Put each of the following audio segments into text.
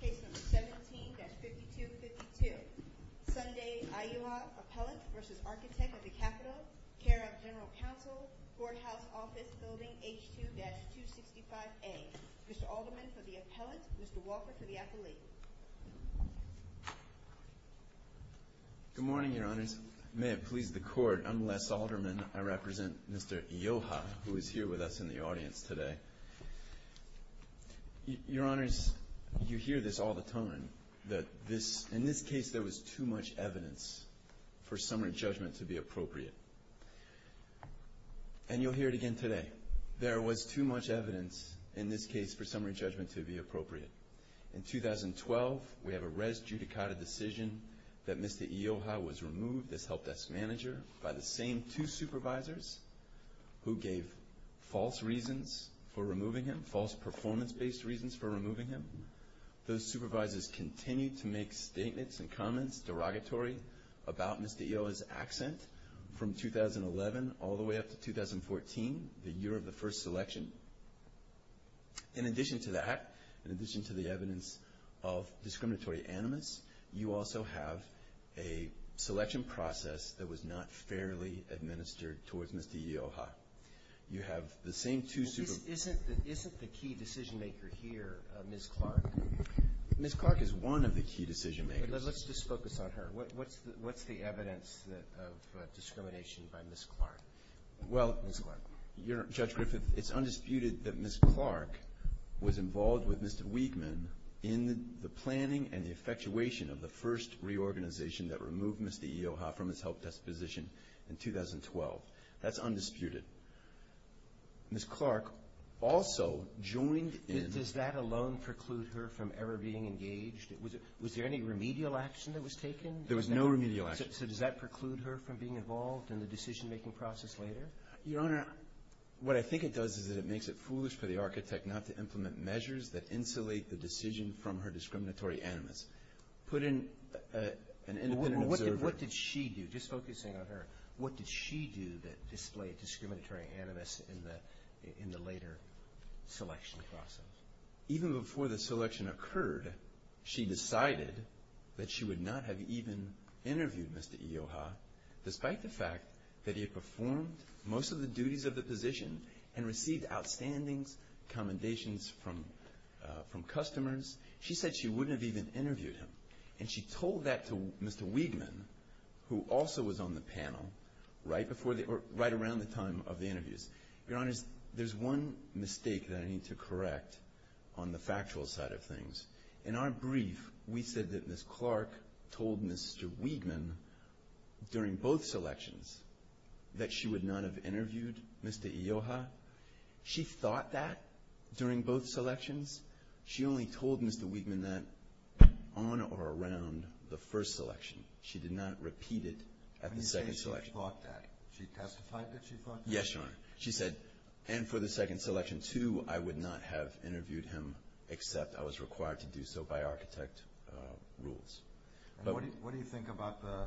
Case number 17-5252. Sunday Iyoha, Appellant v. Architect of the Capitol, Care of General Counsel, Courthouse Office Building H2-265A. Mr. Alderman for the Appellant, Mr. Walker for the Affiliate. Good morning, Your Honors. May it please the Court, I'm Les Alderman. I represent Mr. Iyoha, who is here with us in the audience today. Your Honors, you hear this all the time, that in this case there was too much evidence for summary judgment to be appropriate. And you'll hear it again today. There was too much evidence in this case for summary judgment to be appropriate. In 2012, we have a res judicata decision that Mr. Iyoha was removed as Help Desk Manager by the same two supervisors who gave false reasons for removing him, false performance-based reasons for removing him. Those supervisors continued to make statements and comments, derogatory, about Mr. Iyoha's accent from 2011 all the way up to 2014, the year of the first selection. In addition to that, in addition to the evidence of discriminatory animus, you also have a selection process that was not fairly administered towards Mr. Iyoha. You have the same two supervisors. Isn't the key decision-maker here Ms. Clark? Ms. Clark is one of the key decision-makers. Let's just focus on her. What's the evidence of discrimination by Ms. Clark? Well, Judge Griffith, it's undisputed that Ms. Clark was involved with Mr. Wiegman in the planning and the effectuation of the first reorganization that removed Mr. Iyoha from his Help Desk position in 2012. That's undisputed. Ms. Clark also joined in— Does that alone preclude her from ever being engaged? Was there any remedial action that was taken? There was no remedial action. So does that preclude her from being involved in the decision-making process later? Your Honor, what I think it does is that it makes it foolish for the architect not to implement measures that insulate the decision from her discriminatory animus. Put in an independent observer— Well, what did she do? Just focusing on her. What did she do that displayed discriminatory animus in the later selection process? Even before the selection occurred, she decided that she would not have even interviewed Mr. Iyoha despite the fact that he had performed most of the duties of the position and received outstandings commendations from customers. She said she wouldn't have even interviewed him. And she told that to Mr. Wiegman, who also was on the panel right around the time of the interviews. Your Honor, there's one mistake that I need to correct on the factual side of things. In our brief, we said that Ms. Clark told Mr. Wiegman during both selections that she would not have interviewed Mr. Iyoha. She thought that during both selections. She only told Mr. Wiegman that on or around the first selection. She did not repeat it at the second selection. When you say she thought that, she testified that she thought that? Yes, Your Honor. She said, and for the second selection, too, I would not have interviewed him except I was required to do so by architect rules. What do you think about the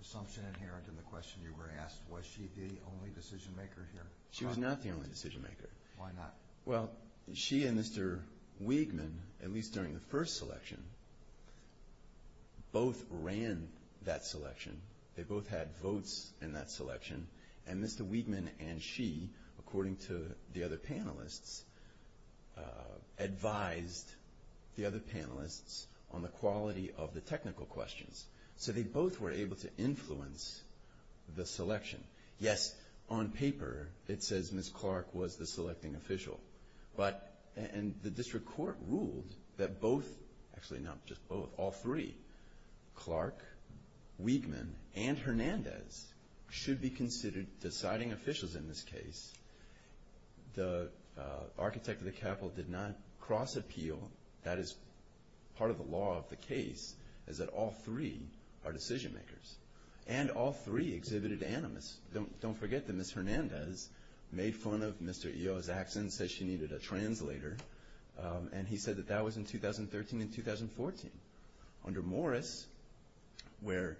assumption inherent in the question you were asked? Was she the only decision-maker here? She was not the only decision-maker. Why not? Well, she and Mr. Wiegman, at least during the first selection, both ran that selection. They both had votes in that selection. And Mr. Wiegman and she, according to the other panelists, advised the other panelists on the quality of the technical questions. So they both were able to influence the selection. Yes, on paper, it says Ms. Clark was the selecting official. But the district court ruled that both, actually not just both, all three, Clark, Wiegman, and Hernandez should be considered deciding officials in this case. The architect of the capital did not cross-appeal. That is part of the law of the case, is that all three are decision-makers. And all three exhibited animus. Don't forget that Ms. Hernandez made fun of Mr. Eo's accent, said she needed a translator, and he said that that was in 2013 and 2014. Under Morris, where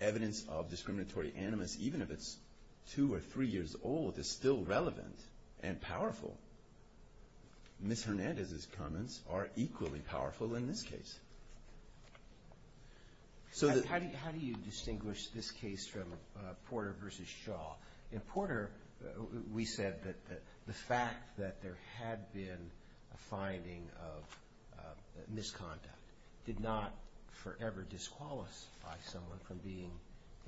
evidence of discriminatory animus, even if it's two or three years old, is still relevant and powerful, Ms. Hernandez's comments are equally powerful in this case. How do you distinguish this case from Porter v. Shaw? In Porter, we said that the fact that there had been a finding of misconduct did not forever disqualify someone from being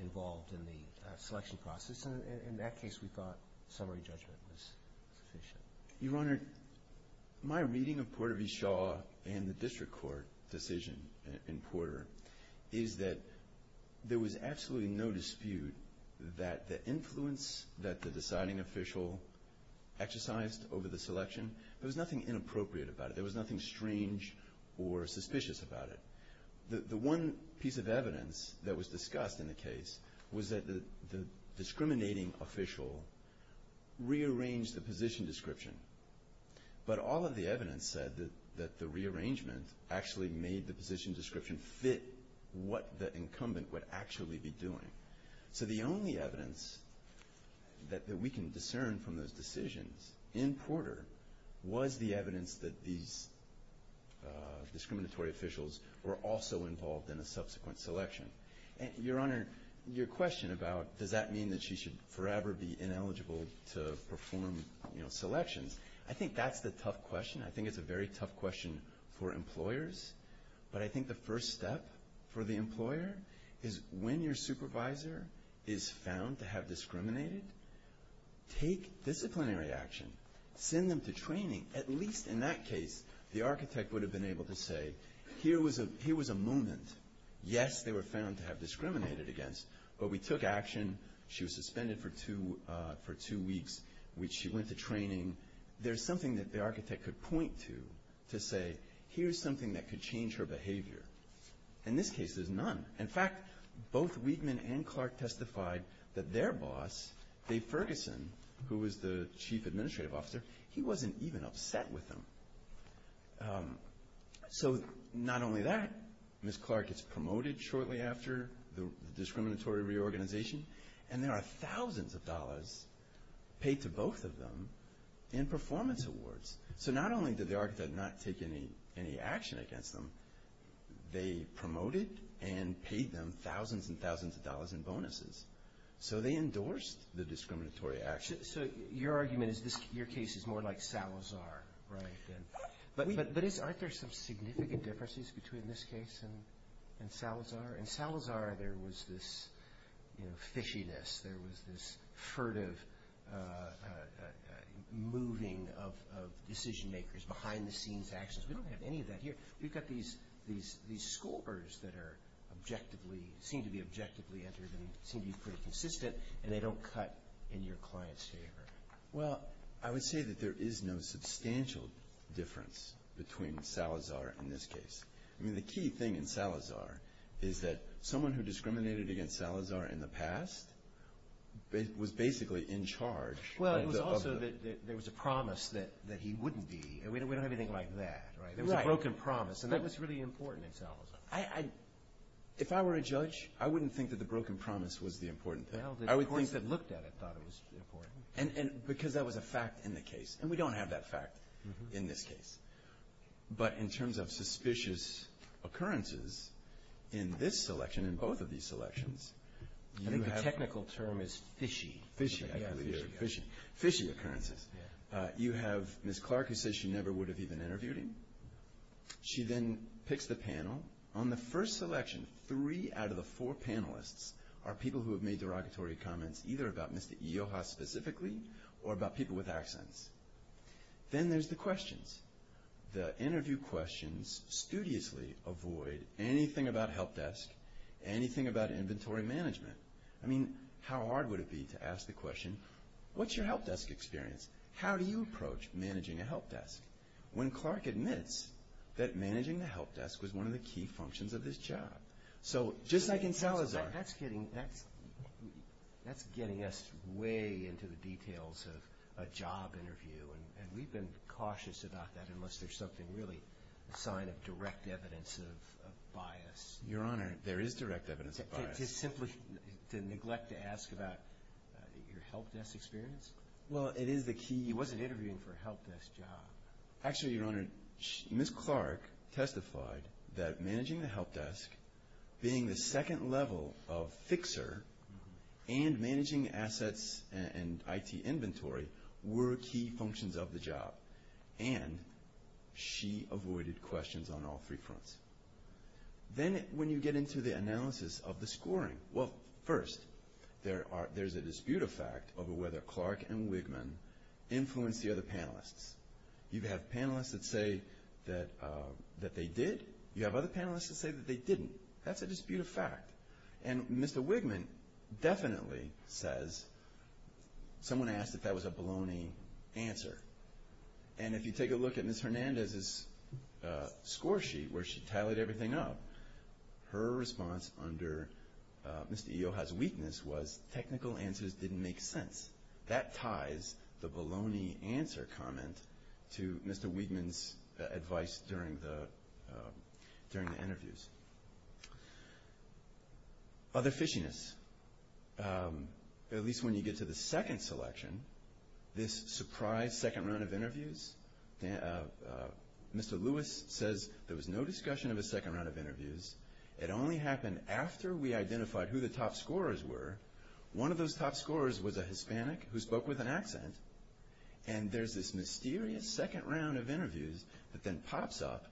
involved in the selection process. In that case, we thought summary judgment was sufficient. Your Honor, my reading of Porter v. Shaw and the district court decision in Porter is that there was absolutely no dispute that the influence that the deciding official exercised over the selection, there was nothing inappropriate about it. There was nothing strange or suspicious about it. The one piece of evidence that was discussed in the case was that the discriminating official rearranged the position description. But all of the evidence said that the rearrangement actually made the position description fit what the incumbent would actually be doing. So the only evidence that we can discern from those decisions in Porter was the evidence that these discriminatory officials were also involved in a subsequent selection. Your Honor, your question about does that mean that she should forever be ineligible to perform selections, I think that's the tough question. I think it's a very tough question for employers. But I think the first step for the employer is when your supervisor is found to have discriminated, take disciplinary action, send them to training. At least in that case, the architect would have been able to say, here was a moment, yes, they were found to have discriminated against, but we took action, she was suspended for two weeks, which she went to training. There's something that the architect could point to to say, here's something that could change her behavior. In this case, there's none. In fact, both Weidman and Clark testified that their boss, Dave Ferguson, who was the chief administrative officer, he wasn't even upset with them. So not only that, Ms. Clark gets promoted shortly after the discriminatory reorganization, and there are thousands of dollars paid to both of them in performance awards. So not only did the architect not take any action against them, they promoted and paid them thousands and thousands of dollars in bonuses. So they endorsed the discriminatory action. So your argument is your case is more like Salazar, right? But aren't there some significant differences between this case and Salazar? In Salazar, there was this fishiness. There was this furtive moving of decision makers, behind-the-scenes actions. We don't have any of that here. We've got these scorers that seem to be objectively entered and seem to be pretty consistent, and they don't cut in your client's favor. Well, I would say that there is no substantial difference between Salazar and this case. The key thing in Salazar is that someone who discriminated against Salazar in the past was basically in charge. Well, it was also that there was a promise that he wouldn't be. We don't have anything like that. There was a broken promise. That was really important in Salazar. If I were a judge, I wouldn't think that the broken promise was the important thing. The courts that looked at it thought it was important. Because that was a fact in the case. And we don't have that fact in this case. But in terms of suspicious occurrences in this selection, in both of these selections, you have – I think the technical term is fishy. Fishy. Fishy occurrences. You have Ms. Clark who says she never would have even interviewed him. She then picks the panel. On the first selection, three out of the four panelists are people who have made derogatory comments either about Mr. Ioha specifically or about people with accents. Then there's the questions. The interview questions studiously avoid anything about help desk, anything about inventory management. I mean, how hard would it be to ask the question, what's your help desk experience? How do you approach managing a help desk? When Clark admits that managing the help desk was one of the key functions of this job. So just like in Salazar. That's getting us way into the details of a job interview. And we've been cautious about that unless there's something really a sign of direct evidence of bias. Your Honor, there is direct evidence of bias. To neglect to ask about your help desk experience? Well, it is the key. He wasn't interviewing for a help desk job. Actually, Your Honor, Ms. Clark testified that managing the help desk, being the second level of fixer and managing assets and IT inventory were key functions of the job. And she avoided questions on all three fronts. Then when you get into the analysis of the scoring, well, first, there's a dispute of fact over whether Clark and Wigman influenced the other panelists. You have panelists that say that they did. You have other panelists that say that they didn't. That's a dispute of fact. And Mr. Wigman definitely says, someone asked if that was a baloney answer. And if you take a look at Ms. Hernandez's score sheet where she tallied everything up, her response under Mr. Iheoha's weakness was technical answers didn't make sense. That ties the baloney answer comment to Mr. Wigman's advice during the interviews. Other fishiness. At least when you get to the second selection, this surprise second round of interviews, Mr. Lewis says there was no discussion of a second round of interviews. It only happened after we identified who the top scorers were. One of those top scorers was a Hispanic who spoke with an accent. And there's this mysterious second round of interviews that then pops up.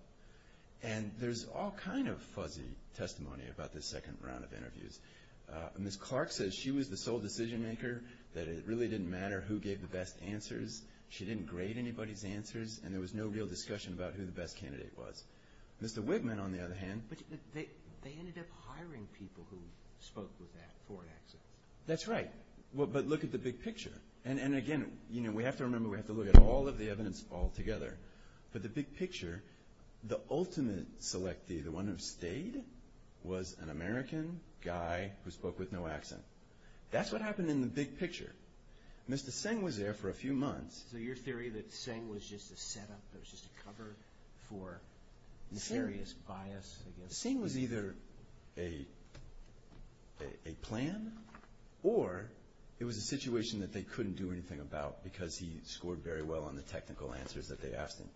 And there's all kind of fuzzy testimony about this second round of interviews. Ms. Clark says she was the sole decision maker, that it really didn't matter who gave the best answers. She didn't grade anybody's answers. And there was no real discussion about who the best candidate was. Mr. Wigman, on the other hand. But they ended up hiring people who spoke with that foreign accent. That's right. But look at the big picture. And, again, we have to remember we have to look at all of the evidence altogether. But the big picture, the ultimate selectee, the one who stayed, was an American guy who spoke with no accent. That's what happened in the big picture. Mr. Singh was there for a few months. So your theory that Singh was just a setup, that was just a cover for serious bias? Singh was either a plan or it was a situation that they couldn't do anything about because he scored very well on the technical answers that they asked him.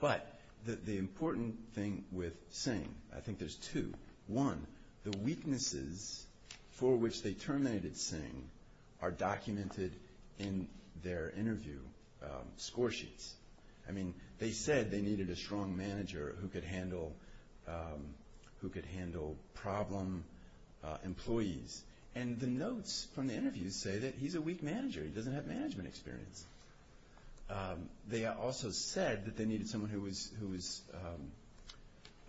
But the important thing with Singh, I think there's two. One, the weaknesses for which they terminated Singh are documented in their interview score sheets. I mean, they said they needed a strong manager who could handle problem employees. And the notes from the interviews say that he's a weak manager. He doesn't have management experience. They also said that they needed someone who was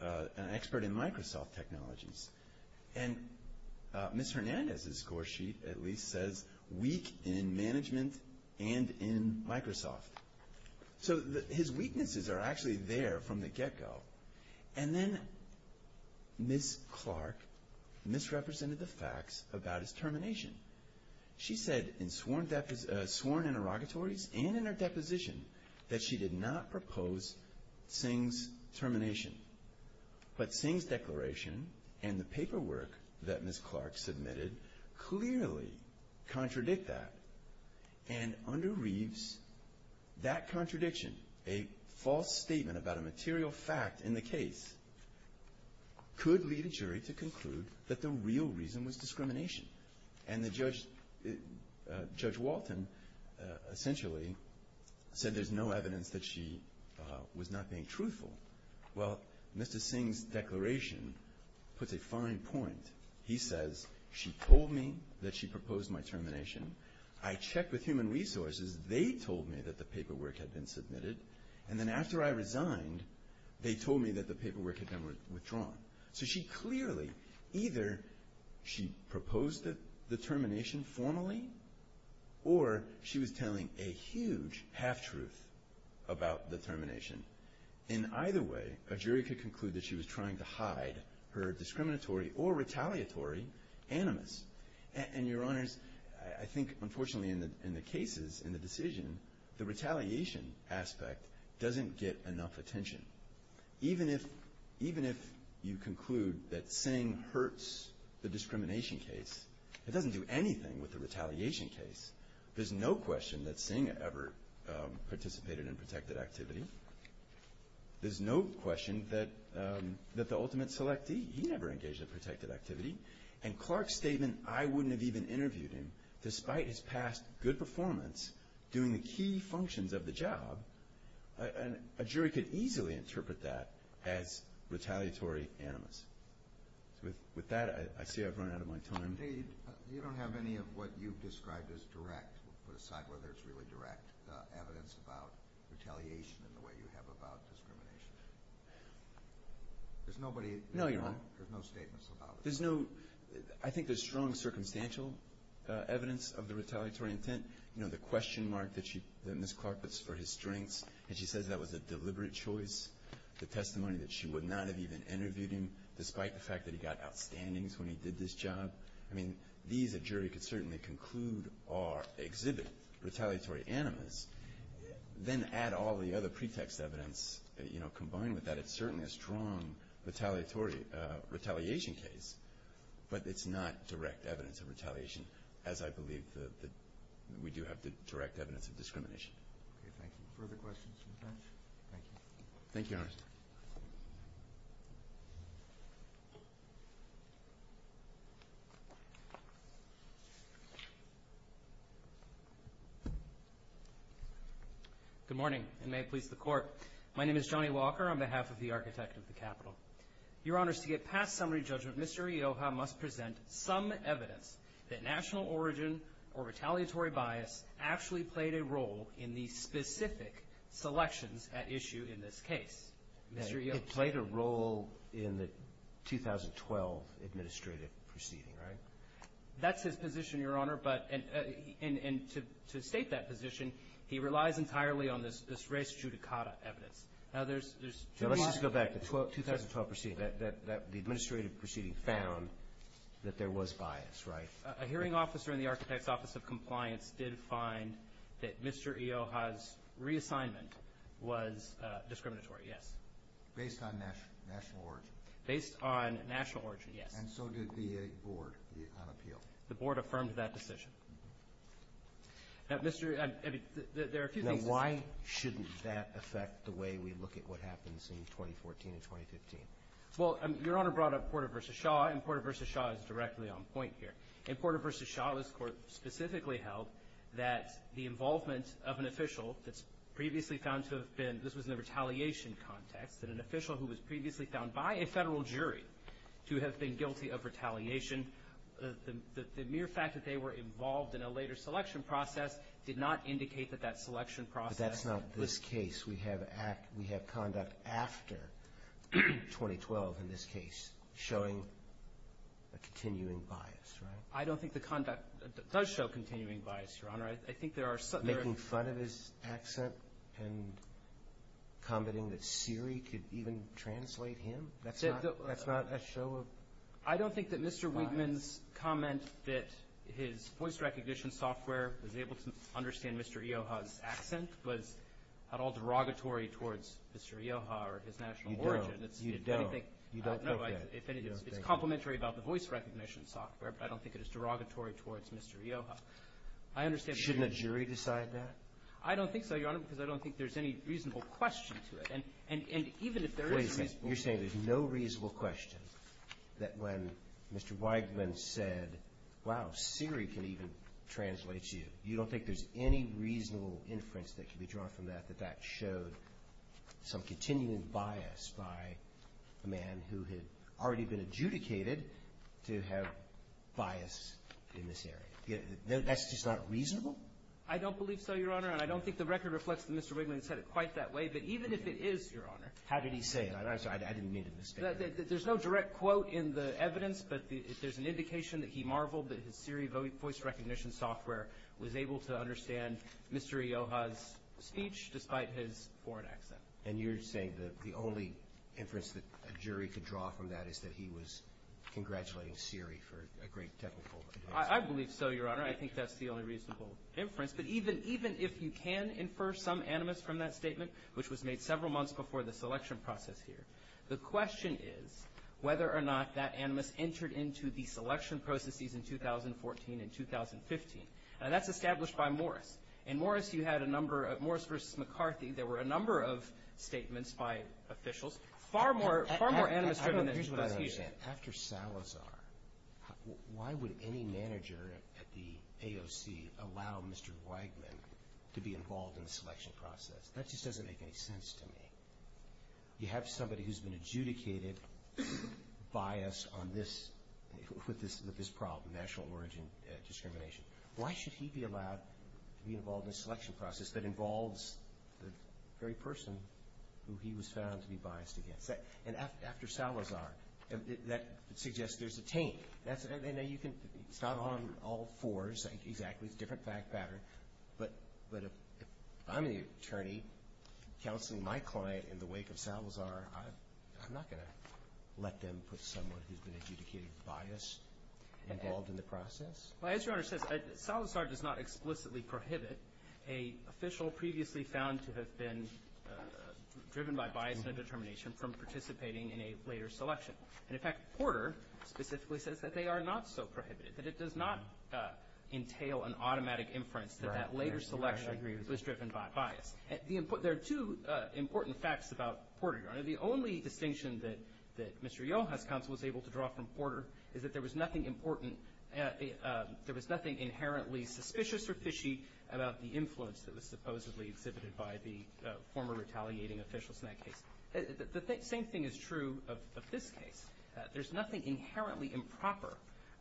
an expert in Microsoft technologies. And Ms. Hernandez's score sheet, at least, says weak in management and in Microsoft. So his weaknesses are actually there from the get-go. And then Ms. Clark misrepresented the facts about his termination. She said in sworn interrogatories and in her deposition that she did not propose Singh's termination. But Singh's declaration and the paperwork that Ms. Clark submitted clearly contradict that. And under Reeves, that contradiction, a false statement about a material fact in the case, could lead a jury to conclude that the real reason was discrimination. And Judge Walton essentially said there's no evidence that she was not being truthful. Well, Mr. Singh's declaration puts a fine point. He says, she told me that she proposed my termination. I checked with Human Resources. They told me that the paperwork had been submitted. And then after I resigned, they told me that the paperwork had been withdrawn. So she clearly, either she proposed the termination formally, or she was telling a huge half-truth about the termination. In either way, a jury could conclude that she was trying to hide her discriminatory or retaliatory animus. And, Your Honors, I think, unfortunately, in the cases, in the decision, the retaliation aspect doesn't get enough attention. Even if you conclude that Singh hurts the discrimination case, it doesn't do anything with the retaliation case. There's no question that Singh ever participated in protected activity. There's no question that the ultimate selectee, he never engaged in protected activity. And Clark's statement, I wouldn't have even interviewed him, despite his past good performance doing the key functions of the job, a jury could easily interpret that as retaliatory animus. With that, I see I've run out of my time. You don't have any of what you've described as direct, we'll put aside whether it's really direct, evidence about retaliation in the way you have about discrimination. There's nobody. No, Your Honor. There's no statements about it. There's no. I think there's strong circumstantial evidence of the retaliatory intent. The question mark that Ms. Clark puts for his strengths, and she says that was a deliberate choice. The testimony that she would not have even interviewed him, despite the fact that he got outstandings when he did this job. These, a jury could certainly conclude, are exhibit retaliatory animus. Then add all the other pretext evidence combined with that, it's certainly a strong retaliation case. But it's not direct evidence of retaliation, as I believe that we do have the direct evidence of discrimination. Okay, thank you. Further questions from the bench? Thank you. Thank you, Your Honor. Good morning, and may it please the Court. My name is Johnny Walker on behalf of the Architect of the Capitol. Your Honor, to get past summary judgment, Mr. Ioha must present some evidence that national origin or retaliatory bias actually played a role in the specific selections at issue in this case. Mr. Ioha. It played a role in the 2012 administrative proceeding, right? That's his position, Your Honor. And to state that position, he relies entirely on this res judicata evidence. Let's just go back to the 2012 proceeding. The administrative proceeding found that there was bias, right? A hearing officer in the Architect's Office of Compliance did find that Mr. Ioha's reassignment was discriminatory, yes. Based on national origin. Based on national origin, yes. And so did the board on appeal. The board affirmed that decision. Now, Mr. Ioha, there are a few things. Now, why shouldn't that affect the way we look at what happens in 2014 and 2015? Well, Your Honor brought up Porter v. Shaw, and Porter v. Shaw is directly on point here. In Porter v. Shaw, this Court specifically held that the involvement of an official that's previously found to have been, this was in the retaliation context, that an official who was previously found by a federal jury to have been guilty of retaliation, the mere fact that they were involved in a later selection process did not indicate that that selection process was. But that's not this case. We have conduct after 2012 in this case showing a continuing bias, right? I don't think the conduct does show continuing bias, Your Honor. I think there are some. Making fun of his accent and commenting that Siri could even translate him? That's not a show of bias. I don't think that Mr. Wigman's comment that his voice recognition software was able to understand Mr. Ioha's accent was at all derogatory towards Mr. Ioha or his national origin. You don't. You don't think that. It's complimentary about the voice recognition software, but I don't think it is derogatory towards Mr. Ioha. Shouldn't a jury decide that? I don't think so, Your Honor, because I don't think there's any reasonable question to it. Wait a second. You're saying there's no reasonable question that when Mr. Wigman said, wow, Siri can even translate you, you don't think there's any reasonable inference that can be drawn from that that that showed some continuing bias by a man who had already been adjudicated to have bias in this area? That's just not reasonable? I don't believe so, Your Honor, and I don't think the record reflects that Mr. Wigman said it quite that way. But even if it is, Your Honor. How did he say it? I'm sorry, I didn't mean to misstate it. There's no direct quote in the evidence, but there's an indication that he marveled that his Siri voice recognition software was able to understand Mr. Ioha's speech despite his foreign accent. And you're saying the only inference that a jury could draw from that is that he was congratulating Siri for a great technical advance? I believe so, Your Honor. I think that's the only reasonable inference. But even if you can infer some animus from that statement, which was made several months before the selection process here, the question is whether or not that animus entered into the selection processes in 2014 and 2015. Now, that's established by Morris. In Morris, you had a number of—Morris v. McCarthy, there were a number of statements by officials, far more animus-driven than the prosecution. Here's what I understand. After Salazar, why would any manager at the AOC allow Mr. Wigman to be involved in the selection process? That just doesn't make any sense to me. You have somebody who's been adjudicated biased with this problem, national origin discrimination. Why should he be allowed to be involved in the selection process that involves the very person who he was found to be biased against? And after Salazar, that suggests there's a taint. It's not on all fours exactly. It's a different fact pattern. But if I'm the attorney counseling my client in the wake of Salazar, I'm not going to let them put someone who's been adjudicated biased involved in the process? Well, as Your Honor says, Salazar does not explicitly prohibit an official previously found to have been driven by bias and a determination from participating in a later selection. And, in fact, Porter specifically says that they are not so prohibited, that it does not entail an automatic inference that that later selection was driven by bias. There are two important facts about Porter, Your Honor. The only distinction that Mr. Yoho's counsel was able to draw from Porter is that there was nothing inherently suspicious or fishy about the influence that was supposedly exhibited by the former retaliating officials in that case. The same thing is true of this case. There's nothing inherently improper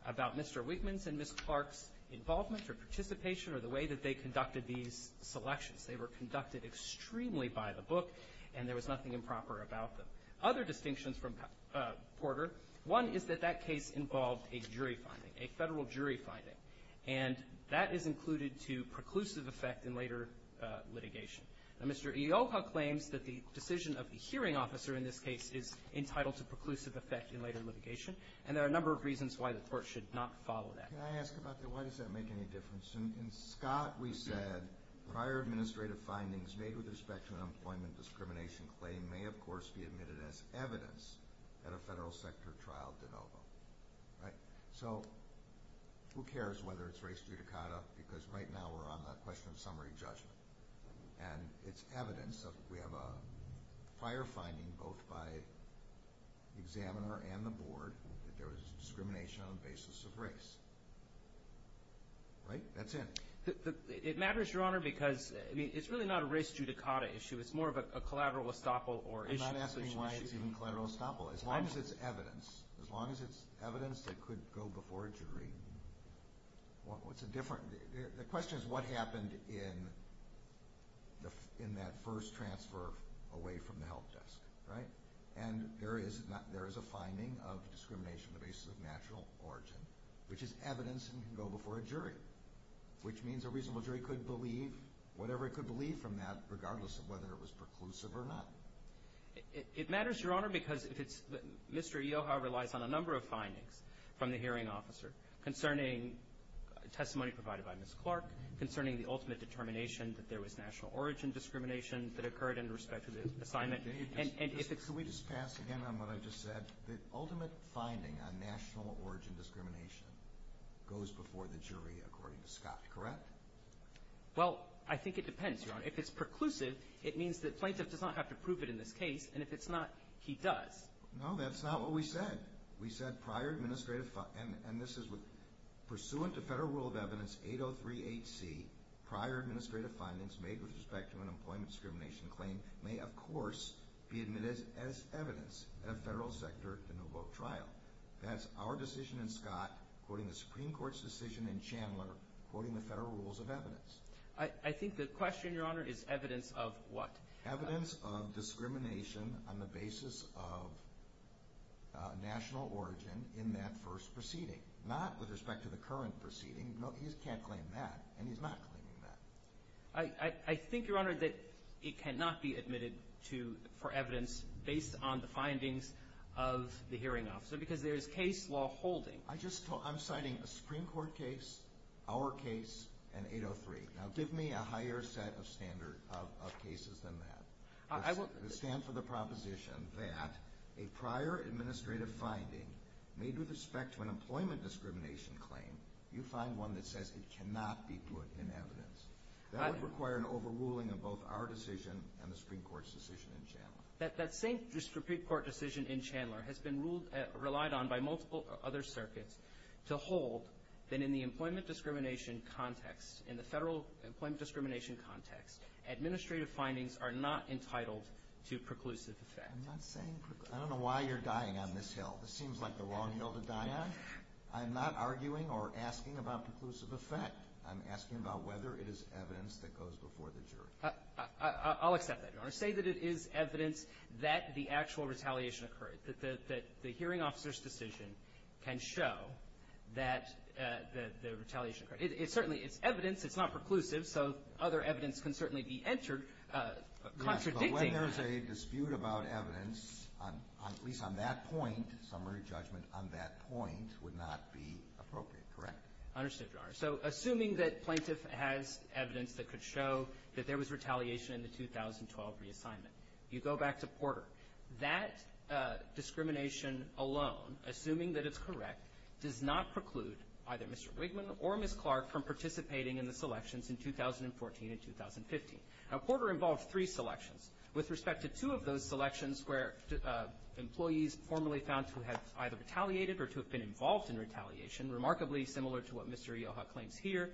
about Mr. Wigman's and Ms. Clark's involvement or participation or the way that they conducted these selections. They were conducted extremely by the book, and there was nothing improper about them. Other distinctions from Porter, one is that that case involved a jury finding, a federal jury finding, and that is included to preclusive effect in later litigation. Now, Mr. Yoho claims that the decision of the hearing officer in this case is entitled to preclusive effect in later litigation, and there are a number of reasons why the court should not follow that. Can I ask about that? Why does that make any difference? In Scott, we said prior administrative findings made with respect to an employment discrimination claim may, of course, be admitted as evidence at a federal sector trial de novo. So who cares whether it's race judicata, because right now we're on the question of summary judgment. And it's evidence. We have a prior finding both by the examiner and the board that there was discrimination on the basis of race. Right? That's it. It matters, Your Honor, because it's really not a race judicata issue. It's more of a collateral estoppel or issue. I'm not asking why it's even collateral estoppel. As long as it's evidence, as long as it's evidence that could go before a jury, what's the difference? The question is what happened in that first transfer away from the help desk. Right? And there is a finding of discrimination on the basis of natural origin, which is evidence and can go before a jury, which means a reasonable jury could believe whatever it could believe from that, regardless of whether it was preclusive or not. It matters, Your Honor, because Mr. Eo, however, relies on a number of findings from the hearing officer concerning testimony provided by Ms. Clark, concerning the ultimate determination that there was national origin discrimination that occurred in respect to the assignment. Can we just pass again on what I just said? The ultimate finding on national origin discrimination goes before the jury, according to Scott, correct? Well, I think it depends, Your Honor. If it's preclusive, it means that plaintiff does not have to prove it in this case. And if it's not, he does. No, that's not what we said. We said prior administrative findings, and this is pursuant to Federal Rule of Evidence 8038C, prior administrative findings made with respect to an employment discrimination claim may, of course, be admitted as evidence at a federal sector renewal trial. That's our decision in Scott, according to the Supreme Court's decision in Chandler, according to Federal Rules of Evidence. I think the question, Your Honor, is evidence of what? Evidence of discrimination on the basis of national origin in that first proceeding, not with respect to the current proceeding. He can't claim that, and he's not claiming that. I think, Your Honor, that it cannot be admitted for evidence based on the findings of the hearing officer because there is case law holding. I'm citing a Supreme Court case, our case, and 803. Now, give me a higher set of cases than that that stand for the proposition that a prior administrative finding made with respect to an employment discrimination claim, you find one that says it cannot be put in evidence. That would require an overruling of both our decision and the Supreme Court's decision in Chandler. That same Supreme Court decision in Chandler has been relied on by multiple other circuits to hold that in the employment discrimination context, in the federal employment discrimination context, administrative findings are not entitled to preclusive effect. I'm not saying preclusive. I don't know why you're dying on this hill. This seems like the wrong hill to die on. I'm not arguing or asking about preclusive effect. I'm asking about whether it is evidence that goes before the jury. I'll accept that, Your Honor. Say that it is evidence that the actual retaliation occurred, that the hearing officer's decision can show that the retaliation occurred. It certainly is evidence. It's not preclusive, so other evidence can certainly be entered contradicting. Yes, but when there is a dispute about evidence, at least on that point, summary judgment on that point would not be appropriate, correct? Understood, Your Honor. So assuming that plaintiff has evidence that could show that there was retaliation in the 2012 reassignment. You go back to Porter. That discrimination alone, assuming that it's correct, does not preclude either Mr. Wigman or Ms. Clark from participating in the selections in 2014 and 2015. Now, Porter involved three selections. With respect to two of those selections where employees formally found to have either retaliated or to have been involved in retaliation, remarkably similar to what Mr. Ioha claims here,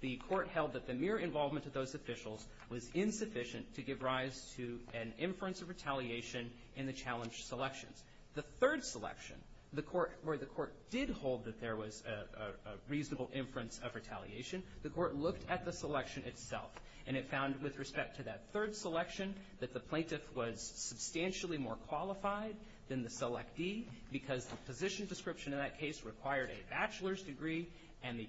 the Court held that the mere involvement of those officials was insufficient to give rise to an inference of retaliation in the challenged selections. The third selection, the Court, where the Court did hold that there was a reasonable inference of retaliation, the Court looked at the selection itself and it found with respect to that third selection that the plaintiff was substantially more qualified than the selectee because the position description in that case required a bachelor's degree and the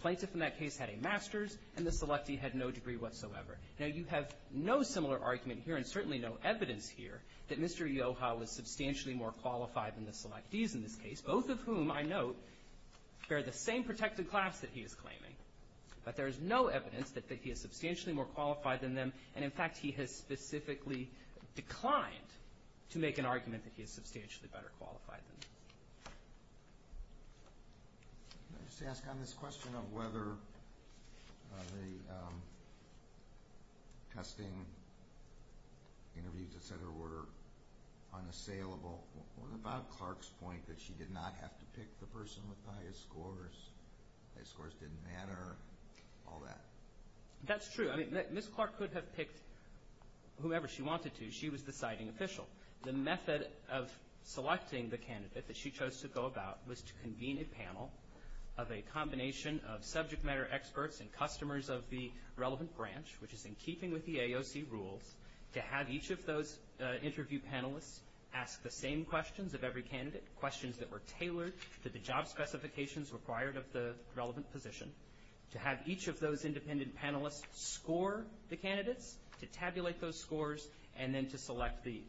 plaintiff in that case had a master's and the selectee had no degree whatsoever. Now, you have no similar argument here and certainly no evidence here that Mr. Ioha was substantially more qualified than the selectees in this case, both of whom, I note, bear the same protected class that he is claiming. But there is no evidence that he is substantially more qualified than them. And, in fact, he has specifically declined to make an argument that he is substantially better qualified than them. Can I just ask on this question of whether the testing interviews, etc., were unassailable, what about Clark's point that she did not have to pick the person with the highest scores, the highest scores didn't matter, all that? That's true. I mean, Ms. Clark could have picked whomever she wanted to. She was the citing official. The method of selecting the candidate that she chose to go about was to convene a panel of a combination of subject matter experts and customers of the relevant branch, which is in keeping with the AOC rules, to have each of those interview panelists ask the same questions of every candidate, questions that were tailored to the job specifications required of the relevant position, to have each of those independent panelists score the candidates to tabulate those scores and then to select the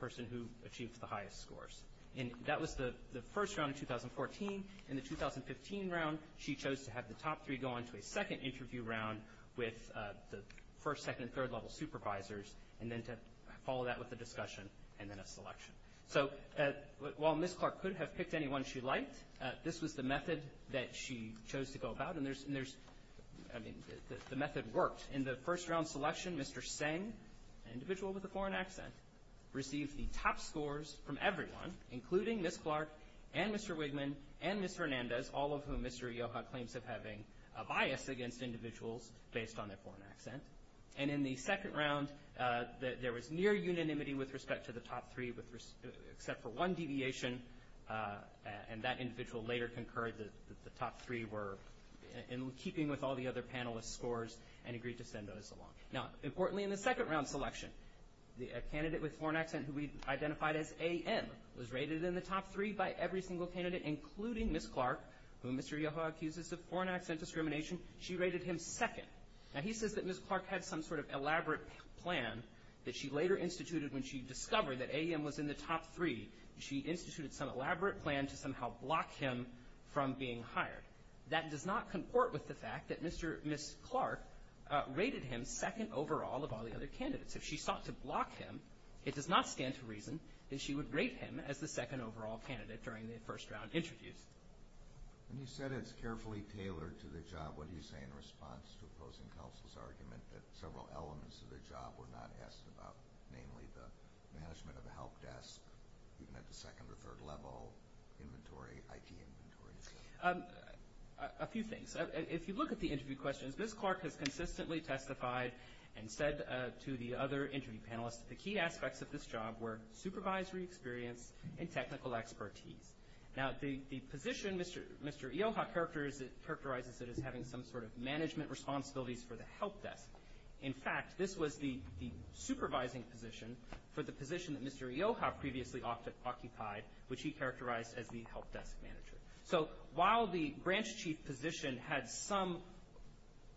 person who achieved the highest scores. And that was the first round in 2014. In the 2015 round, she chose to have the top three go on to a second interview round with the first, second, and third-level supervisors and then to follow that with a discussion and then a selection. So while Ms. Clark could have picked anyone she liked, this was the method that she chose to go about, and there's, I mean, the method worked. In the first round selection, Mr. Seng, an individual with a foreign accent, received the top scores from everyone, including Ms. Clark and Mr. Wigman and Ms. Hernandez, all of whom Mr. Ioha claims of having a bias against individuals based on their foreign accent. And in the second round, there was near unanimity with respect to the top three, except for one deviation, and that individual later concurred that the top three were in keeping with all the other panelists' scores and agreed to send those along. Now, importantly, in the second round selection, a candidate with a foreign accent who we identified as AM was rated in the top three by every single candidate, including Ms. Clark, whom Mr. Ioha accuses of foreign accent discrimination. She rated him second. Now, he says that Ms. Clark had some sort of elaborate plan that she later instituted when she discovered that AM was in the top three. She instituted some elaborate plan to somehow block him from being hired. That does not comport with the fact that Ms. Clark rated him second overall of all the other candidates. If she sought to block him, it does not stand to reason that she would rate him as the second overall candidate during the first round interviews. And you said it's carefully tailored to the job. What do you say in response to opposing counsel's argument that several elements of the job were not asked about, namely the management of the help desk, even at the second or third level, inventory, IT inventory? A few things. If you look at the interview questions, Ms. Clark has consistently testified and said to the other interview panelists that the key aspects of this job were supervisory experience and technical expertise. Now, the position Mr. Ioha characterizes it as having some sort of management responsibilities for the help desk. In fact, this was the supervising position for the position that Mr. Ioha previously occupied, which he characterized as the help desk manager. So while the branch chief position had some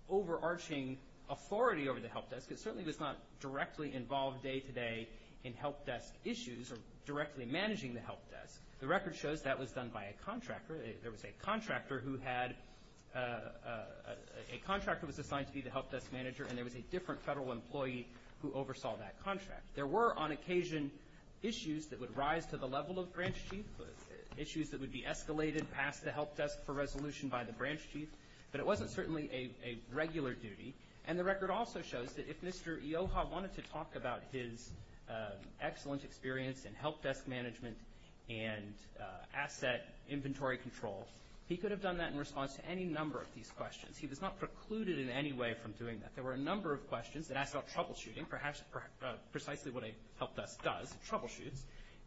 overarching authority over the help desk, it certainly was not directly involved day-to-day in help desk issues or directly managing the help desk. The record shows that was done by a contractor. There was a contractor who was assigned to be the help desk manager, and there was a different federal employee who oversaw that contract. There were, on occasion, issues that would rise to the level of branch chief, issues that would be escalated past the help desk for resolution by the branch chief, but it wasn't certainly a regular duty. And the record also shows that if Mr. Ioha wanted to talk about his excellent experience in help desk management and asset inventory control, he could have done that in response to any number of these questions. He was not precluded in any way from doing that. There were a number of questions that asked about troubleshooting, perhaps precisely what a help desk does, troubleshoots.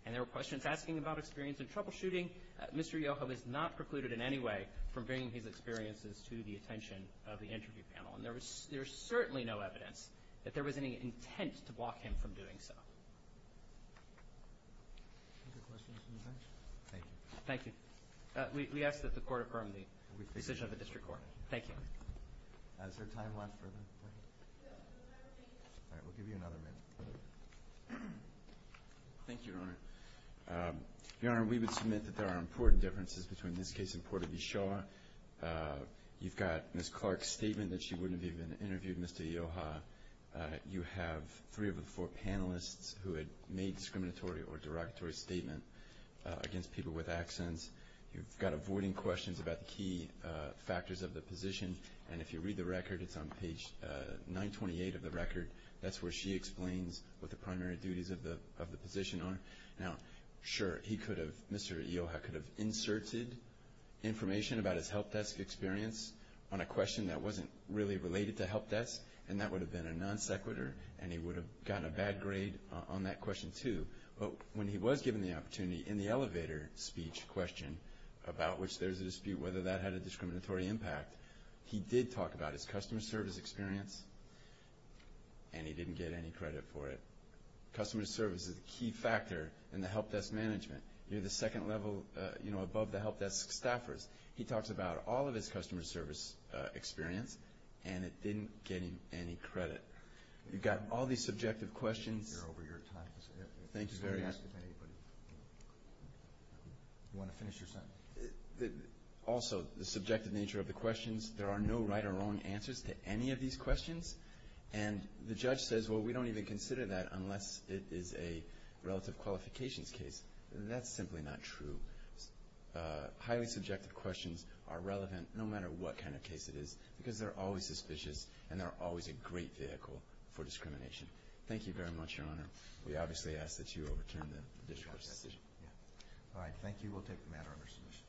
And there were questions asking about experience in troubleshooting. Mr. Ioha was not precluded in any way from bringing his experiences to the attention of the interview panel. And there was certainly no evidence that there was any intent to block him from doing so. Thank you. We ask that the Court affirm the decision of the District Court. Thank you. Is there time left for them? All right. We'll give you another minute. Thank you, Your Honor. Your Honor, we would submit that there are important differences between this case and Porter v. Shaw. You've got Ms. Clark's statement that she wouldn't have even interviewed Mr. Ioha. You have three of the four panelists who had made discriminatory or derogatory statements against people with accents. You've got avoiding questions about the key factors of the position. And if you read the record, it's on page 928 of the record. That's where she explains what the primary duties of the position are. Now, sure, Mr. Ioha could have inserted information about his help desk experience on a question that wasn't really related to help desk, and that would have been a non sequitur, and he would have gotten a bad grade on that question, too. But when he was given the opportunity in the elevator speech question, about which there's a dispute whether that had a discriminatory impact, he did talk about his customer service experience, and he didn't get any credit for it. Customer service is a key factor in the help desk management. You're the second level, you know, above the help desk staffers. He talks about all of his customer service experience, and it didn't get him any credit. You've got all these subjective questions. Thank you very much. Also, the subjective nature of the questions, there are no right or wrong answers to any of these questions. And the judge says, well, we don't even consider that unless it is a relative qualifications case. That's simply not true. Highly subjective questions are relevant no matter what kind of case it is, because they're always suspicious, and they're always a great vehicle for discrimination. Thank you very much, Your Honor. We obviously ask that you overturn the district court's decision. All right, thank you. We'll take the matter under submission.